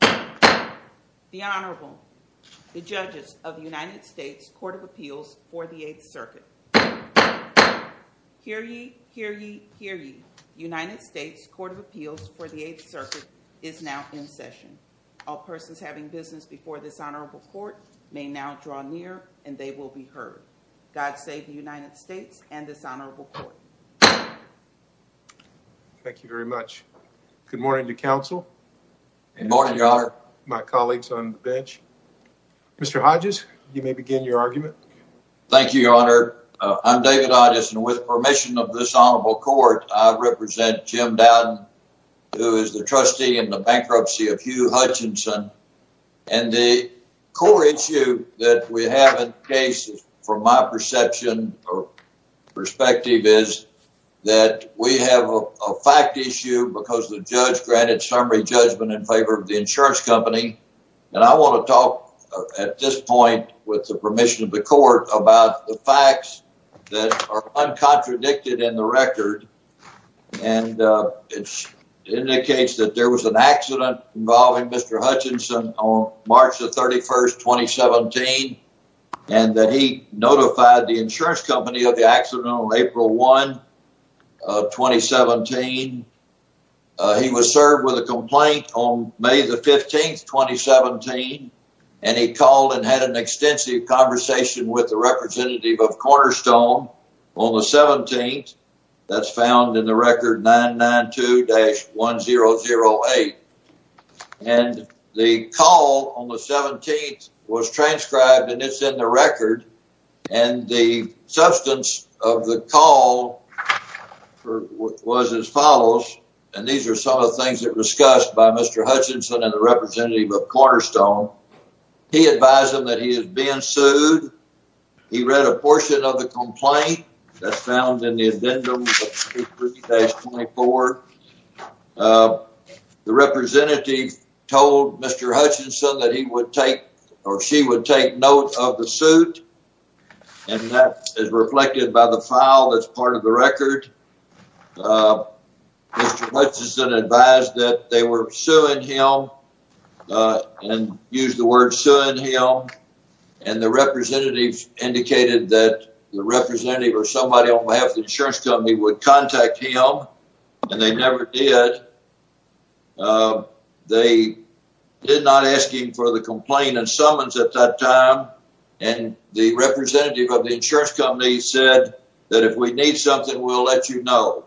The Honorable, the judges of the United States Court of Appeals for the 8th Circuit. Hear ye, hear ye, hear ye. United States Court of Appeals for the 8th Circuit is now in session. All persons having business before this Honorable Court may now draw near and they will be heard. God save the United States and this Honorable Court. Thank you very much. Good morning to Council. Good morning, Your Honor. My colleagues on the bench. Mr. Hodges, you may begin your argument. Thank you, Your Honor. I'm David Hodges and with permission of this Honorable Court, I represent Jim Dowden, who is the trustee in the bankruptcy of Hugh Hutchinson and the core issue that we have in case from my perception or perspective is that we have a fact issue because the judge granted summary judgment in favor of the insurance company and I want to talk at this point with the permission of the court about the facts that are uncontradicted in the record and it was March the 31st, 2017 and that he notified the insurance company of the accident on April 1, 2017. He was served with a complaint on May the 15th, 2017 and he called and had an extensive conversation with the representative of Cornerstone on the 17th. That's found in the record 992-1008 and the call on May the 17th was transcribed and it's in the record and the substance of the call was as follows and these are some of the things that were discussed by Mr. Hutchinson and the representative of Cornerstone. He advised him that he is being sued. He read a portion of the complaint that's found in the Addendum 23-24. The representative told Mr. Hutchinson that he would take or she would take note of the suit and that is reflected by the file that's part of the record. Mr. Hutchinson advised that they were suing him and used the word suing him and the representative indicated that the representative or would contact him and they never did. They did not ask him for the complaint and summons at that time and the representative of the insurance company said that if we need something we'll let you know.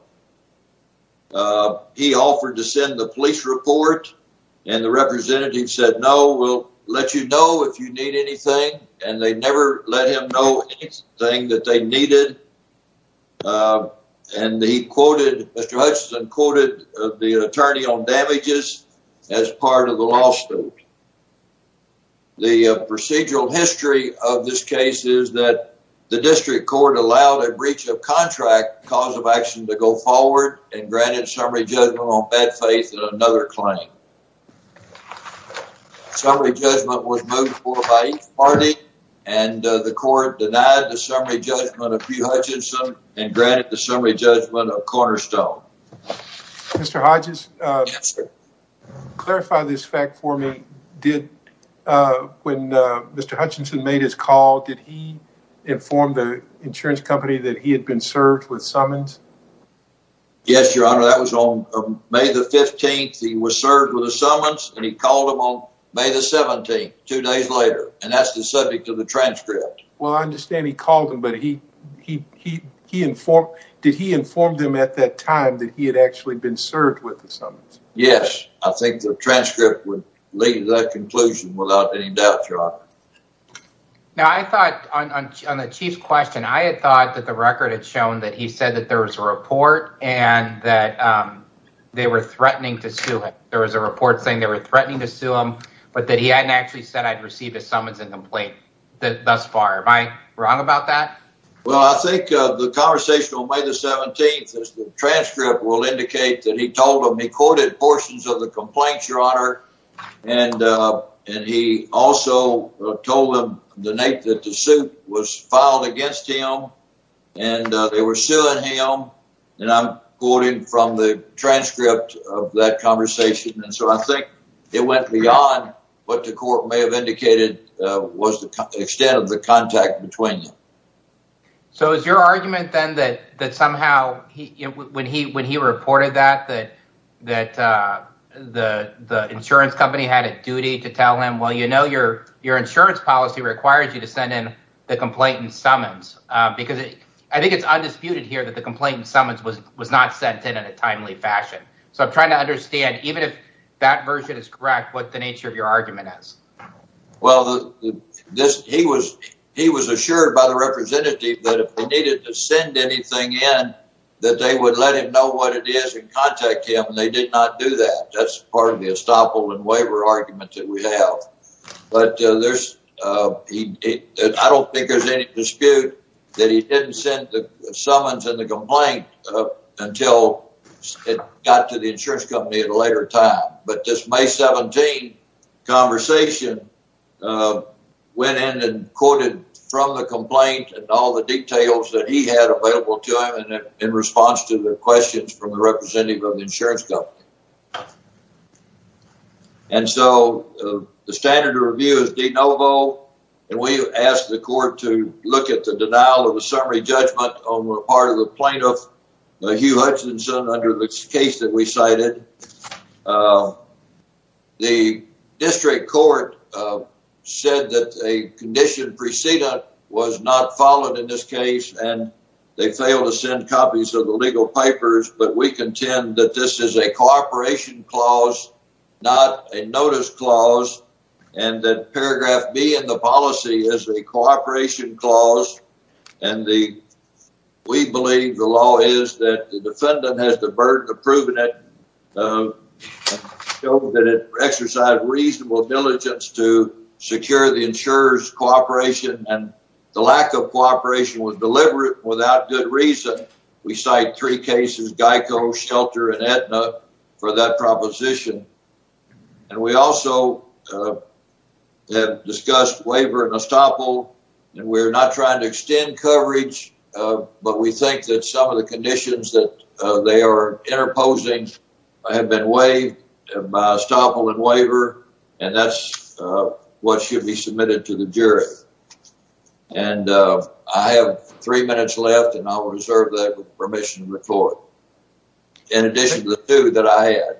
He offered to send the police report and the representative said no we'll let you know if you need anything and they never let him know anything that they needed and he quoted Mr. Hutchinson quoted the attorney on damages as part of the lawsuit. The procedural history of this case is that the district court allowed a breach of contract cause of action to go forward and granted summary judgment on bad and the court denied the summary judgment of Hugh Hutchinson and granted the summary judgment of Cornerstone. Mr. Hodges, clarify this fact for me did when Mr. Hutchinson made his call did he inform the insurance company that he had been served with summons? Yes your honor that was on May the 15th he was served with a summons and he called him on May the 17th two days later and that's the subject of the transcript. Well I understand he called him but he he he informed did he inform them at that time that he had actually been served with the summons? Yes I think the transcript would lead to that conclusion without any doubt your honor. Now I thought on the chief question I had thought that the record had shown that he said that there was a report and that they were threatening to sue him but that he hadn't actually said I'd received a summons and complaint thus far. Am I wrong about that? Well I think the conversation on May the 17th as the transcript will indicate that he told him he quoted portions of the complaints your honor and and he also told them the night that the suit was filed against him and they were suing him and I'm quoting from the transcript of that conversation and so I think it went beyond what the court may have indicated was the extent of the contact between them. So is your argument then that that somehow he when he when he reported that that that the the insurance company had a duty to tell him well you know your your insurance policy requires you to send in the complainant summons because I think it's undisputed here that the complainant summons was was not sent in in a timely fashion so I'm trying to understand even if that version is correct what the nature of your argument is. Well this he was he was assured by the representative that if they needed to send anything in that they would let him know what it is and contact him and they did not do that that's part of the estoppel and waiver arguments that we have but there's I don't think there's any dispute that he didn't send the summons and the complaint until it got to the insurance company at a later time but this May 17 conversation went in and quoted from the complaint and all the details that he had available to him and in response to the questions from the representative of the insurance company and so the standard of review is de novo and we asked the court to look at the denial of a summary judgment on the part of the plaintiff Hugh Hutchinson under this case that we cited. The district court said that a condition precedent was not followed in this case and they failed to send copies of the legal papers but we contend that this is a cooperation clause not a notice clause and that paragraph B in the policy is a cooperation clause and the we believe the law is that the defendant has the burden of proving it that it exercise reasonable diligence to secure the insurers cooperation and the lack of cases Geico Shelter and Aetna for that proposition and we also have discussed waiver and estoppel and we're not trying to extend coverage but we think that some of the conditions that they are interposing I have been waived by estoppel and waiver and that's what should be submitted to the jury and I have three minutes left and I will reserve that permission to report in addition to the two that I had.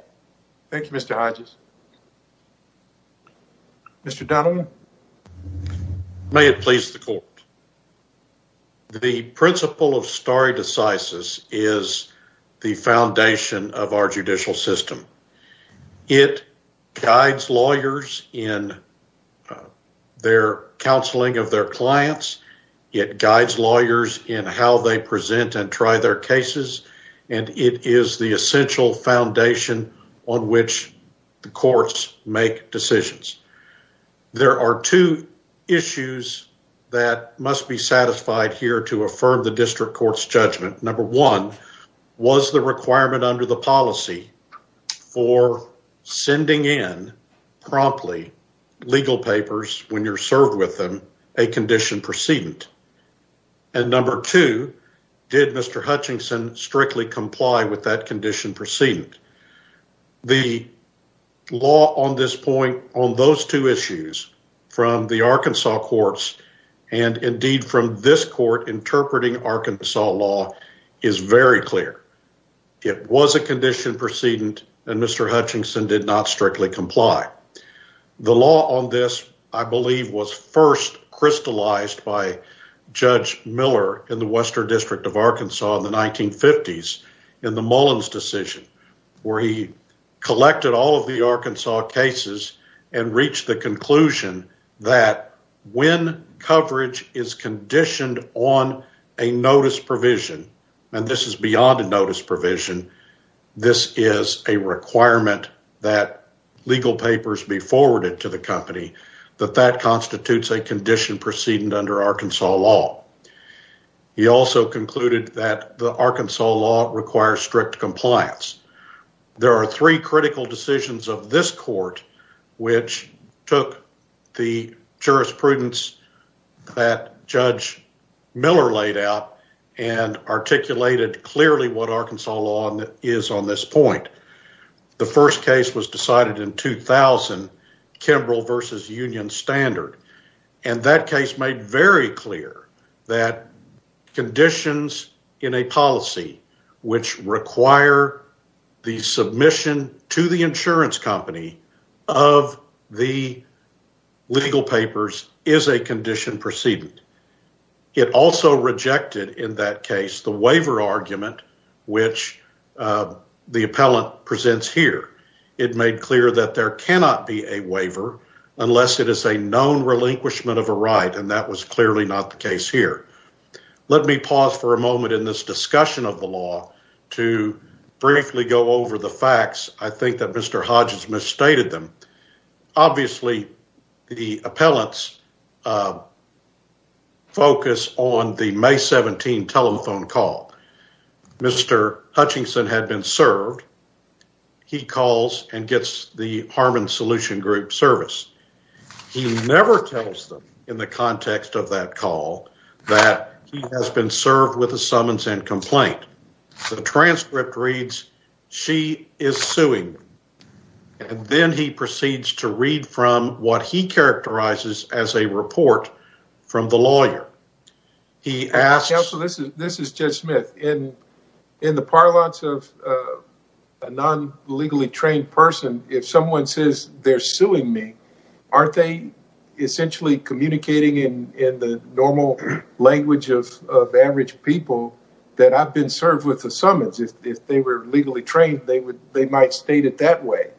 Thank you Mr. Hodges. Mr. Donovan. May it please the court. The principle of stare decisis is the foundation of our judicial system. It guides lawyers in their counseling of their clients. It guides lawyers in how they present and try their cases and it is the essential foundation on which the courts make decisions. There are two issues that must be satisfied here to affirm the district courts judgment. Number one was the requirement under the policy for sending in promptly legal papers when you're precedent and number two did Mr. Hutchinson strictly comply with that condition precedent. The law on this point on those two issues from the Arkansas courts and indeed from this court interpreting Arkansas law is very clear. It was a condition precedent and Mr. Hutchinson did not strictly comply. The law on this I believe was first crystallized by Judge Miller in the Western District of Arkansas in the 1950s in the Mullins decision where he collected all of the Arkansas cases and reached the conclusion that when coverage is conditioned on a notice provision and this is beyond a notice provision this is a requirement that legal papers be forwarded to the company that that constitutes a condition precedent under Arkansas law. He also concluded that the Arkansas law requires strict compliance. There are three critical decisions of this court which took the jurisprudence that Judge Miller laid out and articulated clearly what Arkansas law is on this point. The first case was decided in 2000, Kimbrel versus Union Standard, and that case made very clear that conditions in a policy which require the submission to the insurance company of the legal papers is a condition precedent. It also rejected in that case the waiver argument which the appellant presents here. It made clear that there cannot be a waiver unless it is a known relinquishment of a right and that was clearly not the case here. Let me pause for a moment in this discussion of the law to briefly go over the facts. I think that Mr. Hodges misstated them. Obviously the appellants focus on the May 17 telephone call. Mr. Hutchinson had been served. He calls and gets the Harmon Solution Group service. He never tells them in the context of that call that he has been served with a summons and complaint. The transcript reads, she is suing, and then he proceeds to read from what he characterizes as a report from the lawyer. He asks... Counsel, this is Judge Smith. In the parlance of a non-legally trained person, if someone says they're suing me, aren't they essentially communicating in the normal language of average people that I've been served with a summons? If they were legally trained, they might state it that way.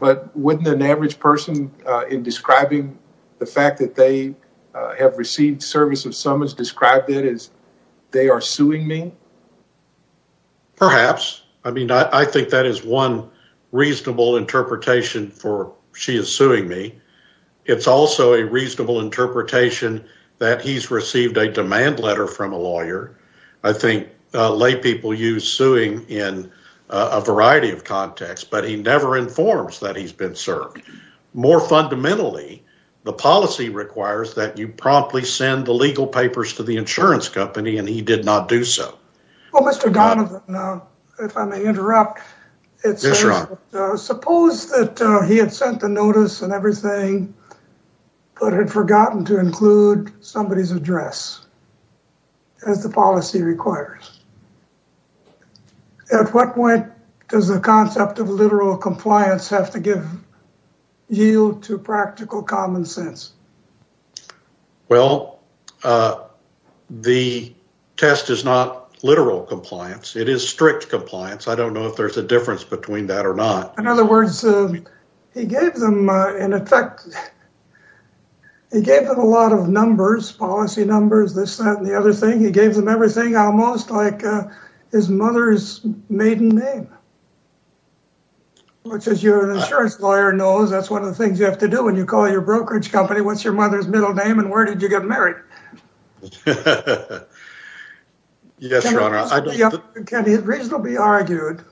But wouldn't an average person in describing the fact that they have received service of summons describe that as they are suing me? Perhaps. I mean, I think that is one reasonable interpretation for she is suing me. It's also a reasonable interpretation that he's received a demand letter from a lawyer. I think laypeople use suing in a variety of contexts, but he never informs that he's been served. More fundamentally, the policy requires that you promptly send the legal papers to the insurance company, and he did not do so. Well, Mr. Donovan, if I may interrupt. Yes, Ron. Suppose that he had sent the notice and everything, but had forgotten to include somebody's address, as the policy requires. At what point does the concept of literal compliance have to give yield to practical common sense? Well, the test is not literal compliance. It is strict compliance. I don't know if there's a difference between that or not. In other words, he gave them, in effect, he gave them a lot of numbers, policy numbers, this, that, and the other thing. He gave them everything, almost like his mother's maiden name. Which, as your insurance lawyer knows, that's one of the things you have to do when you call your brokerage company. What's your mother's middle name, and where did you get married? Yes, Your Honor. Can it reasonably be argued,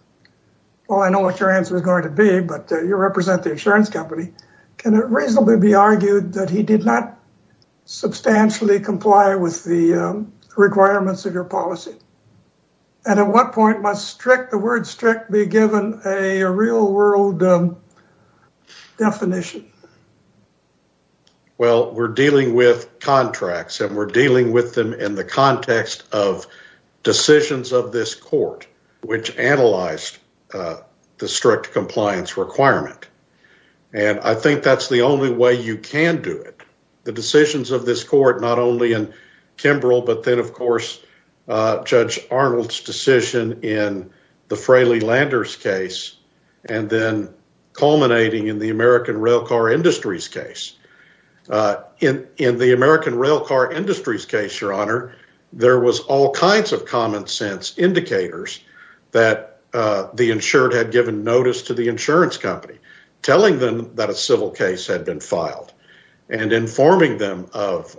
well, I know what your answer is going to be, but you represent the insurance company. Can it reasonably be argued that you have to be strict in the requirements of your policy? And at what point must strict, the word strict, be given a real world definition? Well, we're dealing with contracts, and we're dealing with them in the context of decisions of this court, which analyzed the strict compliance requirement. And I think that's the only way you can do it. The decisions of this court, Kimbrel, but then of course, Judge Arnold's decision in the Fraley-Landers case, and then culminating in the American Railcar Industries case. In the American Railcar Industries case, Your Honor, there was all kinds of common sense indicators that the insured had given notice to the insurance company, telling them that a civil case had been filed, and informing them of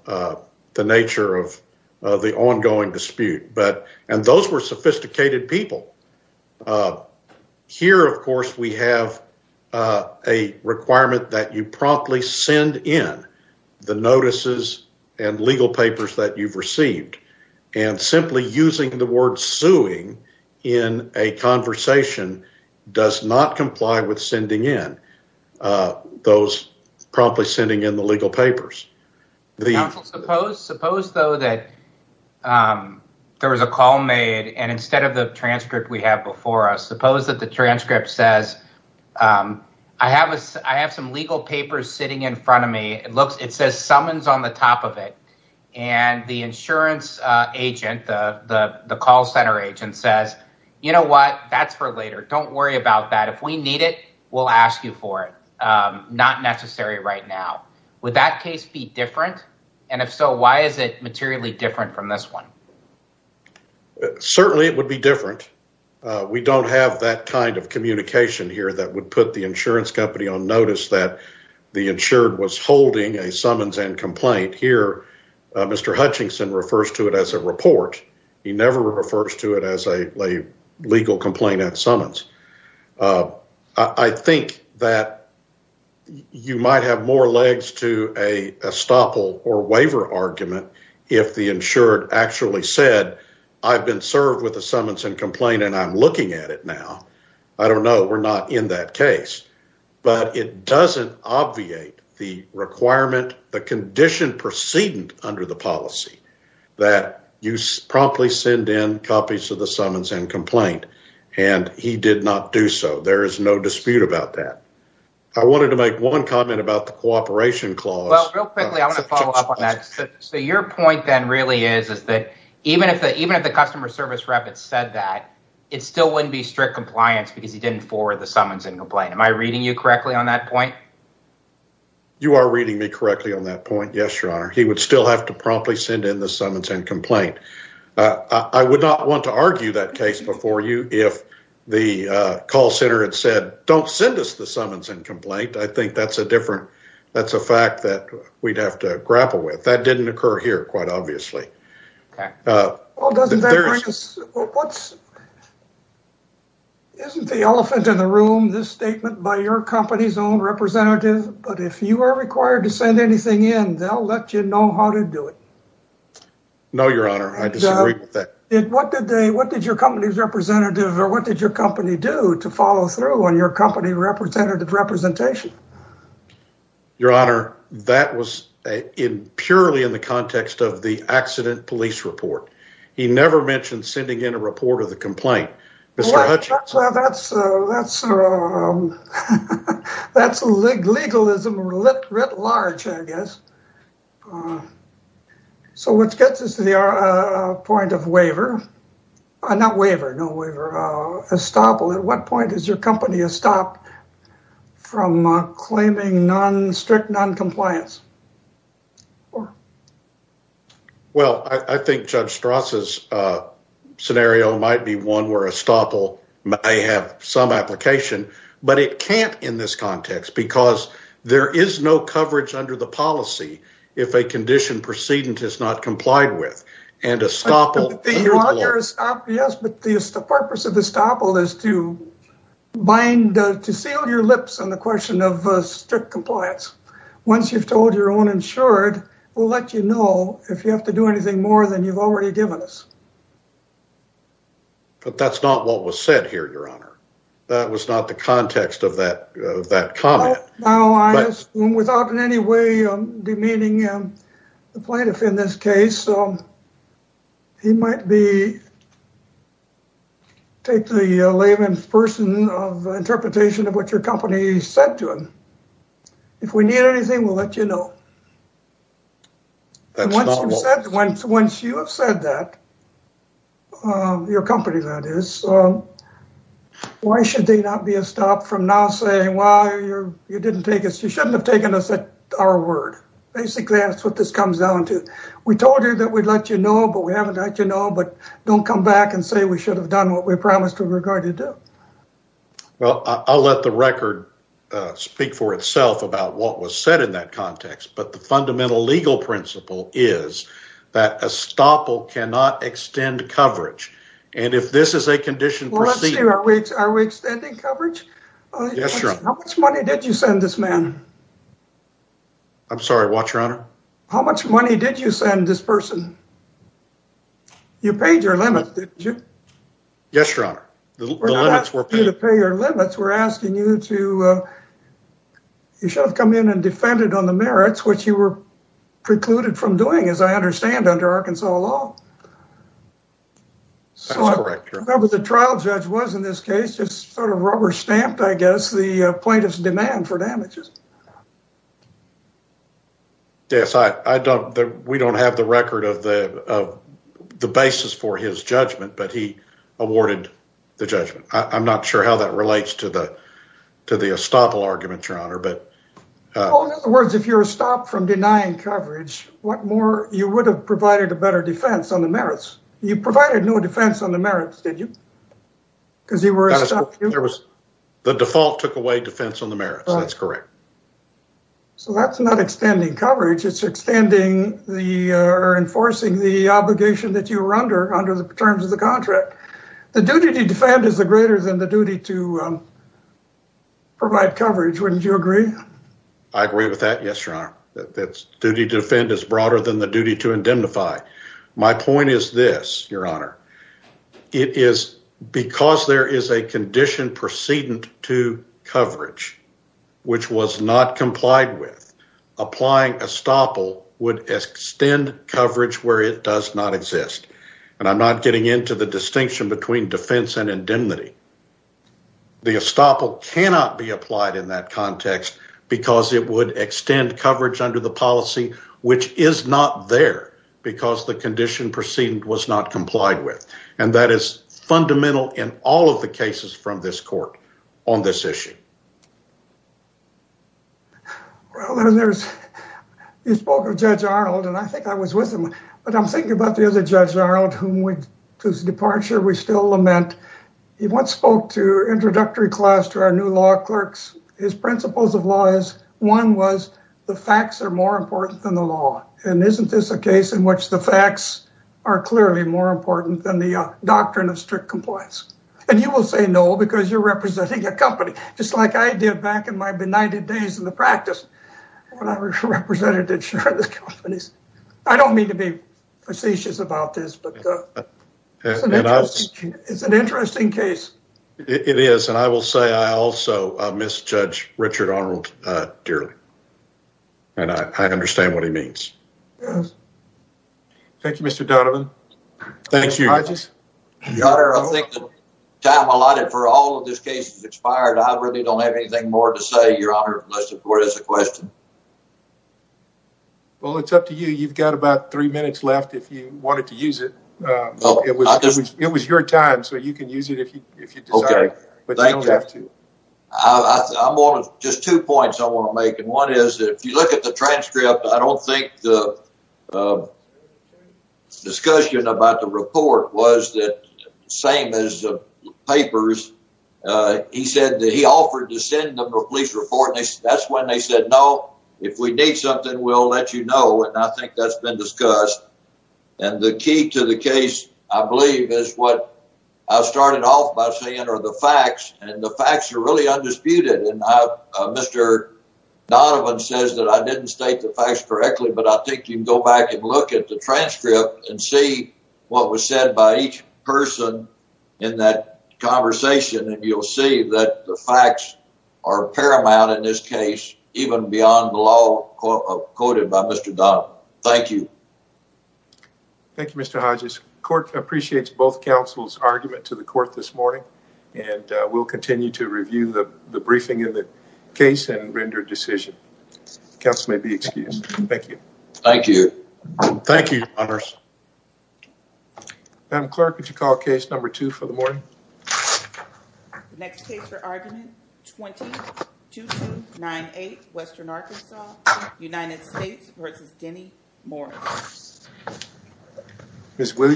the nature of the ongoing dispute. And those were sophisticated people. Here, of course, we have a requirement that you promptly send in the notices and legal papers that you've received. And simply using the word suing in a conversation does not comply with sending in, those promptly sending in the legal papers. Counsel, suppose though that there was a call made, and instead of the transcript we have before us, suppose that the transcript says, I have some legal papers sitting in front of me. It says summons on the top of it. And the insurance agent, the call center agent says, you know what, that's for later. Don't worry about that. If we need it, we'll ask you for it. Not necessary right now. Would that case be different? And if so, why is it materially different from this one? Certainly it would be different. We don't have that kind of communication here that would put the insurance company on notice that the insured was holding a summons and complaint. Here, Mr. Hutchinson refers to it as a report. He never refers to it as a legal complaint at summons. I think that you might have more legs to a estoppel or waiver argument if the insured actually said, I've been served with a summons and complaint and I'm looking at it now. I don't know. We're not in that case. But it doesn't obviate the requirement, the condition precedent under the policy that you promptly send in copies of the summons and complaint. And he did not do so. There is no dispute about that. I wanted to make one comment about the cooperation clause. Well, real quickly, I want to follow up on that. So your point then really is, is that even if the customer service rep had said that, it still wouldn't be strict compliance because he didn't forward the summons and complaint. Am I reading you correctly on that point? You are reading me correctly on that point. Yes, your honor. He would still have to promptly send in the summons and complaint. I would not want to argue that case before you if the call center had said, don't send us the summons and complaint. I think that's a different, that's a fact that we'd have to grapple with. That didn't occur here, quite obviously. Well, doesn't that bring us, isn't the elephant in the room, this statement by your company's own representative, but if you are required to send anything in, they'll let you know how to do it. No, your honor, I disagree with that. What did they, what did your company's representative or what did your company do to follow through on your company representative representation? Your honor, that was in purely in the context of the accident police report. He never mentioned sending in a report of the complaint. Mr. Hutchings? That's, that's, that's legalism writ large, I guess. So what gets us to the point of waiver, not waiver, no waiver, estoppel, at what point is your company estopped from claiming non, strict non-compliance? Well, I think Judge Strauss' scenario might be one where estoppel may have some application, but it can't in this context because there is no coverage under the policy if a condition precedent is not complied with and estoppel. Your honor, yes, but the purpose of estoppel is to bind, to seal your lips on the compliance. Once you've told your own insured, we'll let you know if you have to do anything more than you've already given us. But that's not what was said here, your honor. That was not the context of that, that comment. Now I assume without in any way demeaning the plaintiff in this case, he might be, take the layman's person of interpretation of what your company said to him. If we need anything, we'll let you know. And once you have said that, your company that is, why should they not be estopped from now saying, well, you didn't take us, you shouldn't have taken us at our word? Basically, that's what this comes down to. We told you that we'd let you know, but we haven't let you know. But don't come back and say we should have done what we promised we were going to do. Well, I'll let the record speak for itself about what was said in that context, but the fundamental legal principle is that estoppel cannot extend coverage. And if this is a condition, are we extending coverage? How much money did you send this man? I'm sorry, what, your honor? How much money did you send this person? You paid your limit, didn't you? Yes, your honor, the limits were paid. We're not asking you to pay your limits, we're asking you to, you should have come in and defended on the merits, which you were precluded from doing, as I understand, under Arkansas law. So I remember the trial judge was, in this case, just sort of rubber stamped, I guess, the plaintiff's demand for damages. Yes, I don't, we don't have the record of the basis for his judgment, but he awarded the judgment. I'm not sure how that relates to the, to the estoppel argument, your honor, but. In other words, if you're stopped from denying coverage, what more, you would have provided a better defense on the merits. You provided no defense on the merits, did you? Because you were, there was. The default took away defense on the merits, that's correct. So that's not extending coverage, it's extending the, or enforcing the obligation that you were under, under the terms of the contract. The duty to defend is greater than the duty to provide coverage, wouldn't you agree? I agree with that, yes, your honor, that duty to defend is broader than the duty to indemnify. My point is this, your honor, it is because there is a condition precedent to coverage, which was not complied with, applying estoppel would extend coverage where it does not exist. And I'm not getting into the distinction between defense and indemnity. The estoppel cannot be applied in that context because it would extend coverage under the policy, which is not there because the condition precedent was not complied with. And that is fundamental in all of the cases from this court on this issue. Well, there's, you spoke of Judge Arnold and I think I was with him, but I'm thinking about the other Judge Arnold, whom we, to his departure, we still lament. He once spoke to introductory class to our new law clerks. His principles of law is, one was the facts are more important than the law. And isn't this a case in which the facts are clearly more important than the doctrine of strict compliance? And you will say no, because you're representing a company, just like I did back in my benighted days in the practice when I represented insurance companies. I don't mean to be facetious about this, but it's an interesting case. It is. And I will say I also miss Judge Richard Arnold dearly. And I understand what he means. Thank you, Mr. Donovan. Thank you. Your Honor, I think the time allotted for all of this case has expired. I really don't have anything more to say, Your Honor, unless the court has a question. Well, it's up to you. You've got about three minutes left if you wanted to use it. It was your time, so you can use it if you desire, but you don't have to. I'm only, just two points I want to make. And one is that if you look at the transcript, I don't think the discussion about the report was the same as the papers. He said that he offered to send them a police report. That's when they said, no, if we need something, we'll let you know. And I think that's been discussed. And the key to the case, I believe, is what I started off by saying are the facts. And the facts are really undisputed. And Mr. Donovan says that I didn't state the facts correctly, but I think you can go back and look at the transcript and see what was said by each person in that conversation, and you'll see that the facts are paramount in this case, even beyond the law quoted by Mr. Donovan. Thank you. Thank you, Mr. Hodges. Court appreciates both counsel's argument to the court this morning, and we'll continue to review the briefing in the case and render a decision. Counsel may be excused. Thank you. Thank you. Thank you, Your Honors. Madam Clerk, would you call case number two for the morning? Next case for argument 20-2298, Western Arkansas, United States versus Denny Morris. Ms. Williams.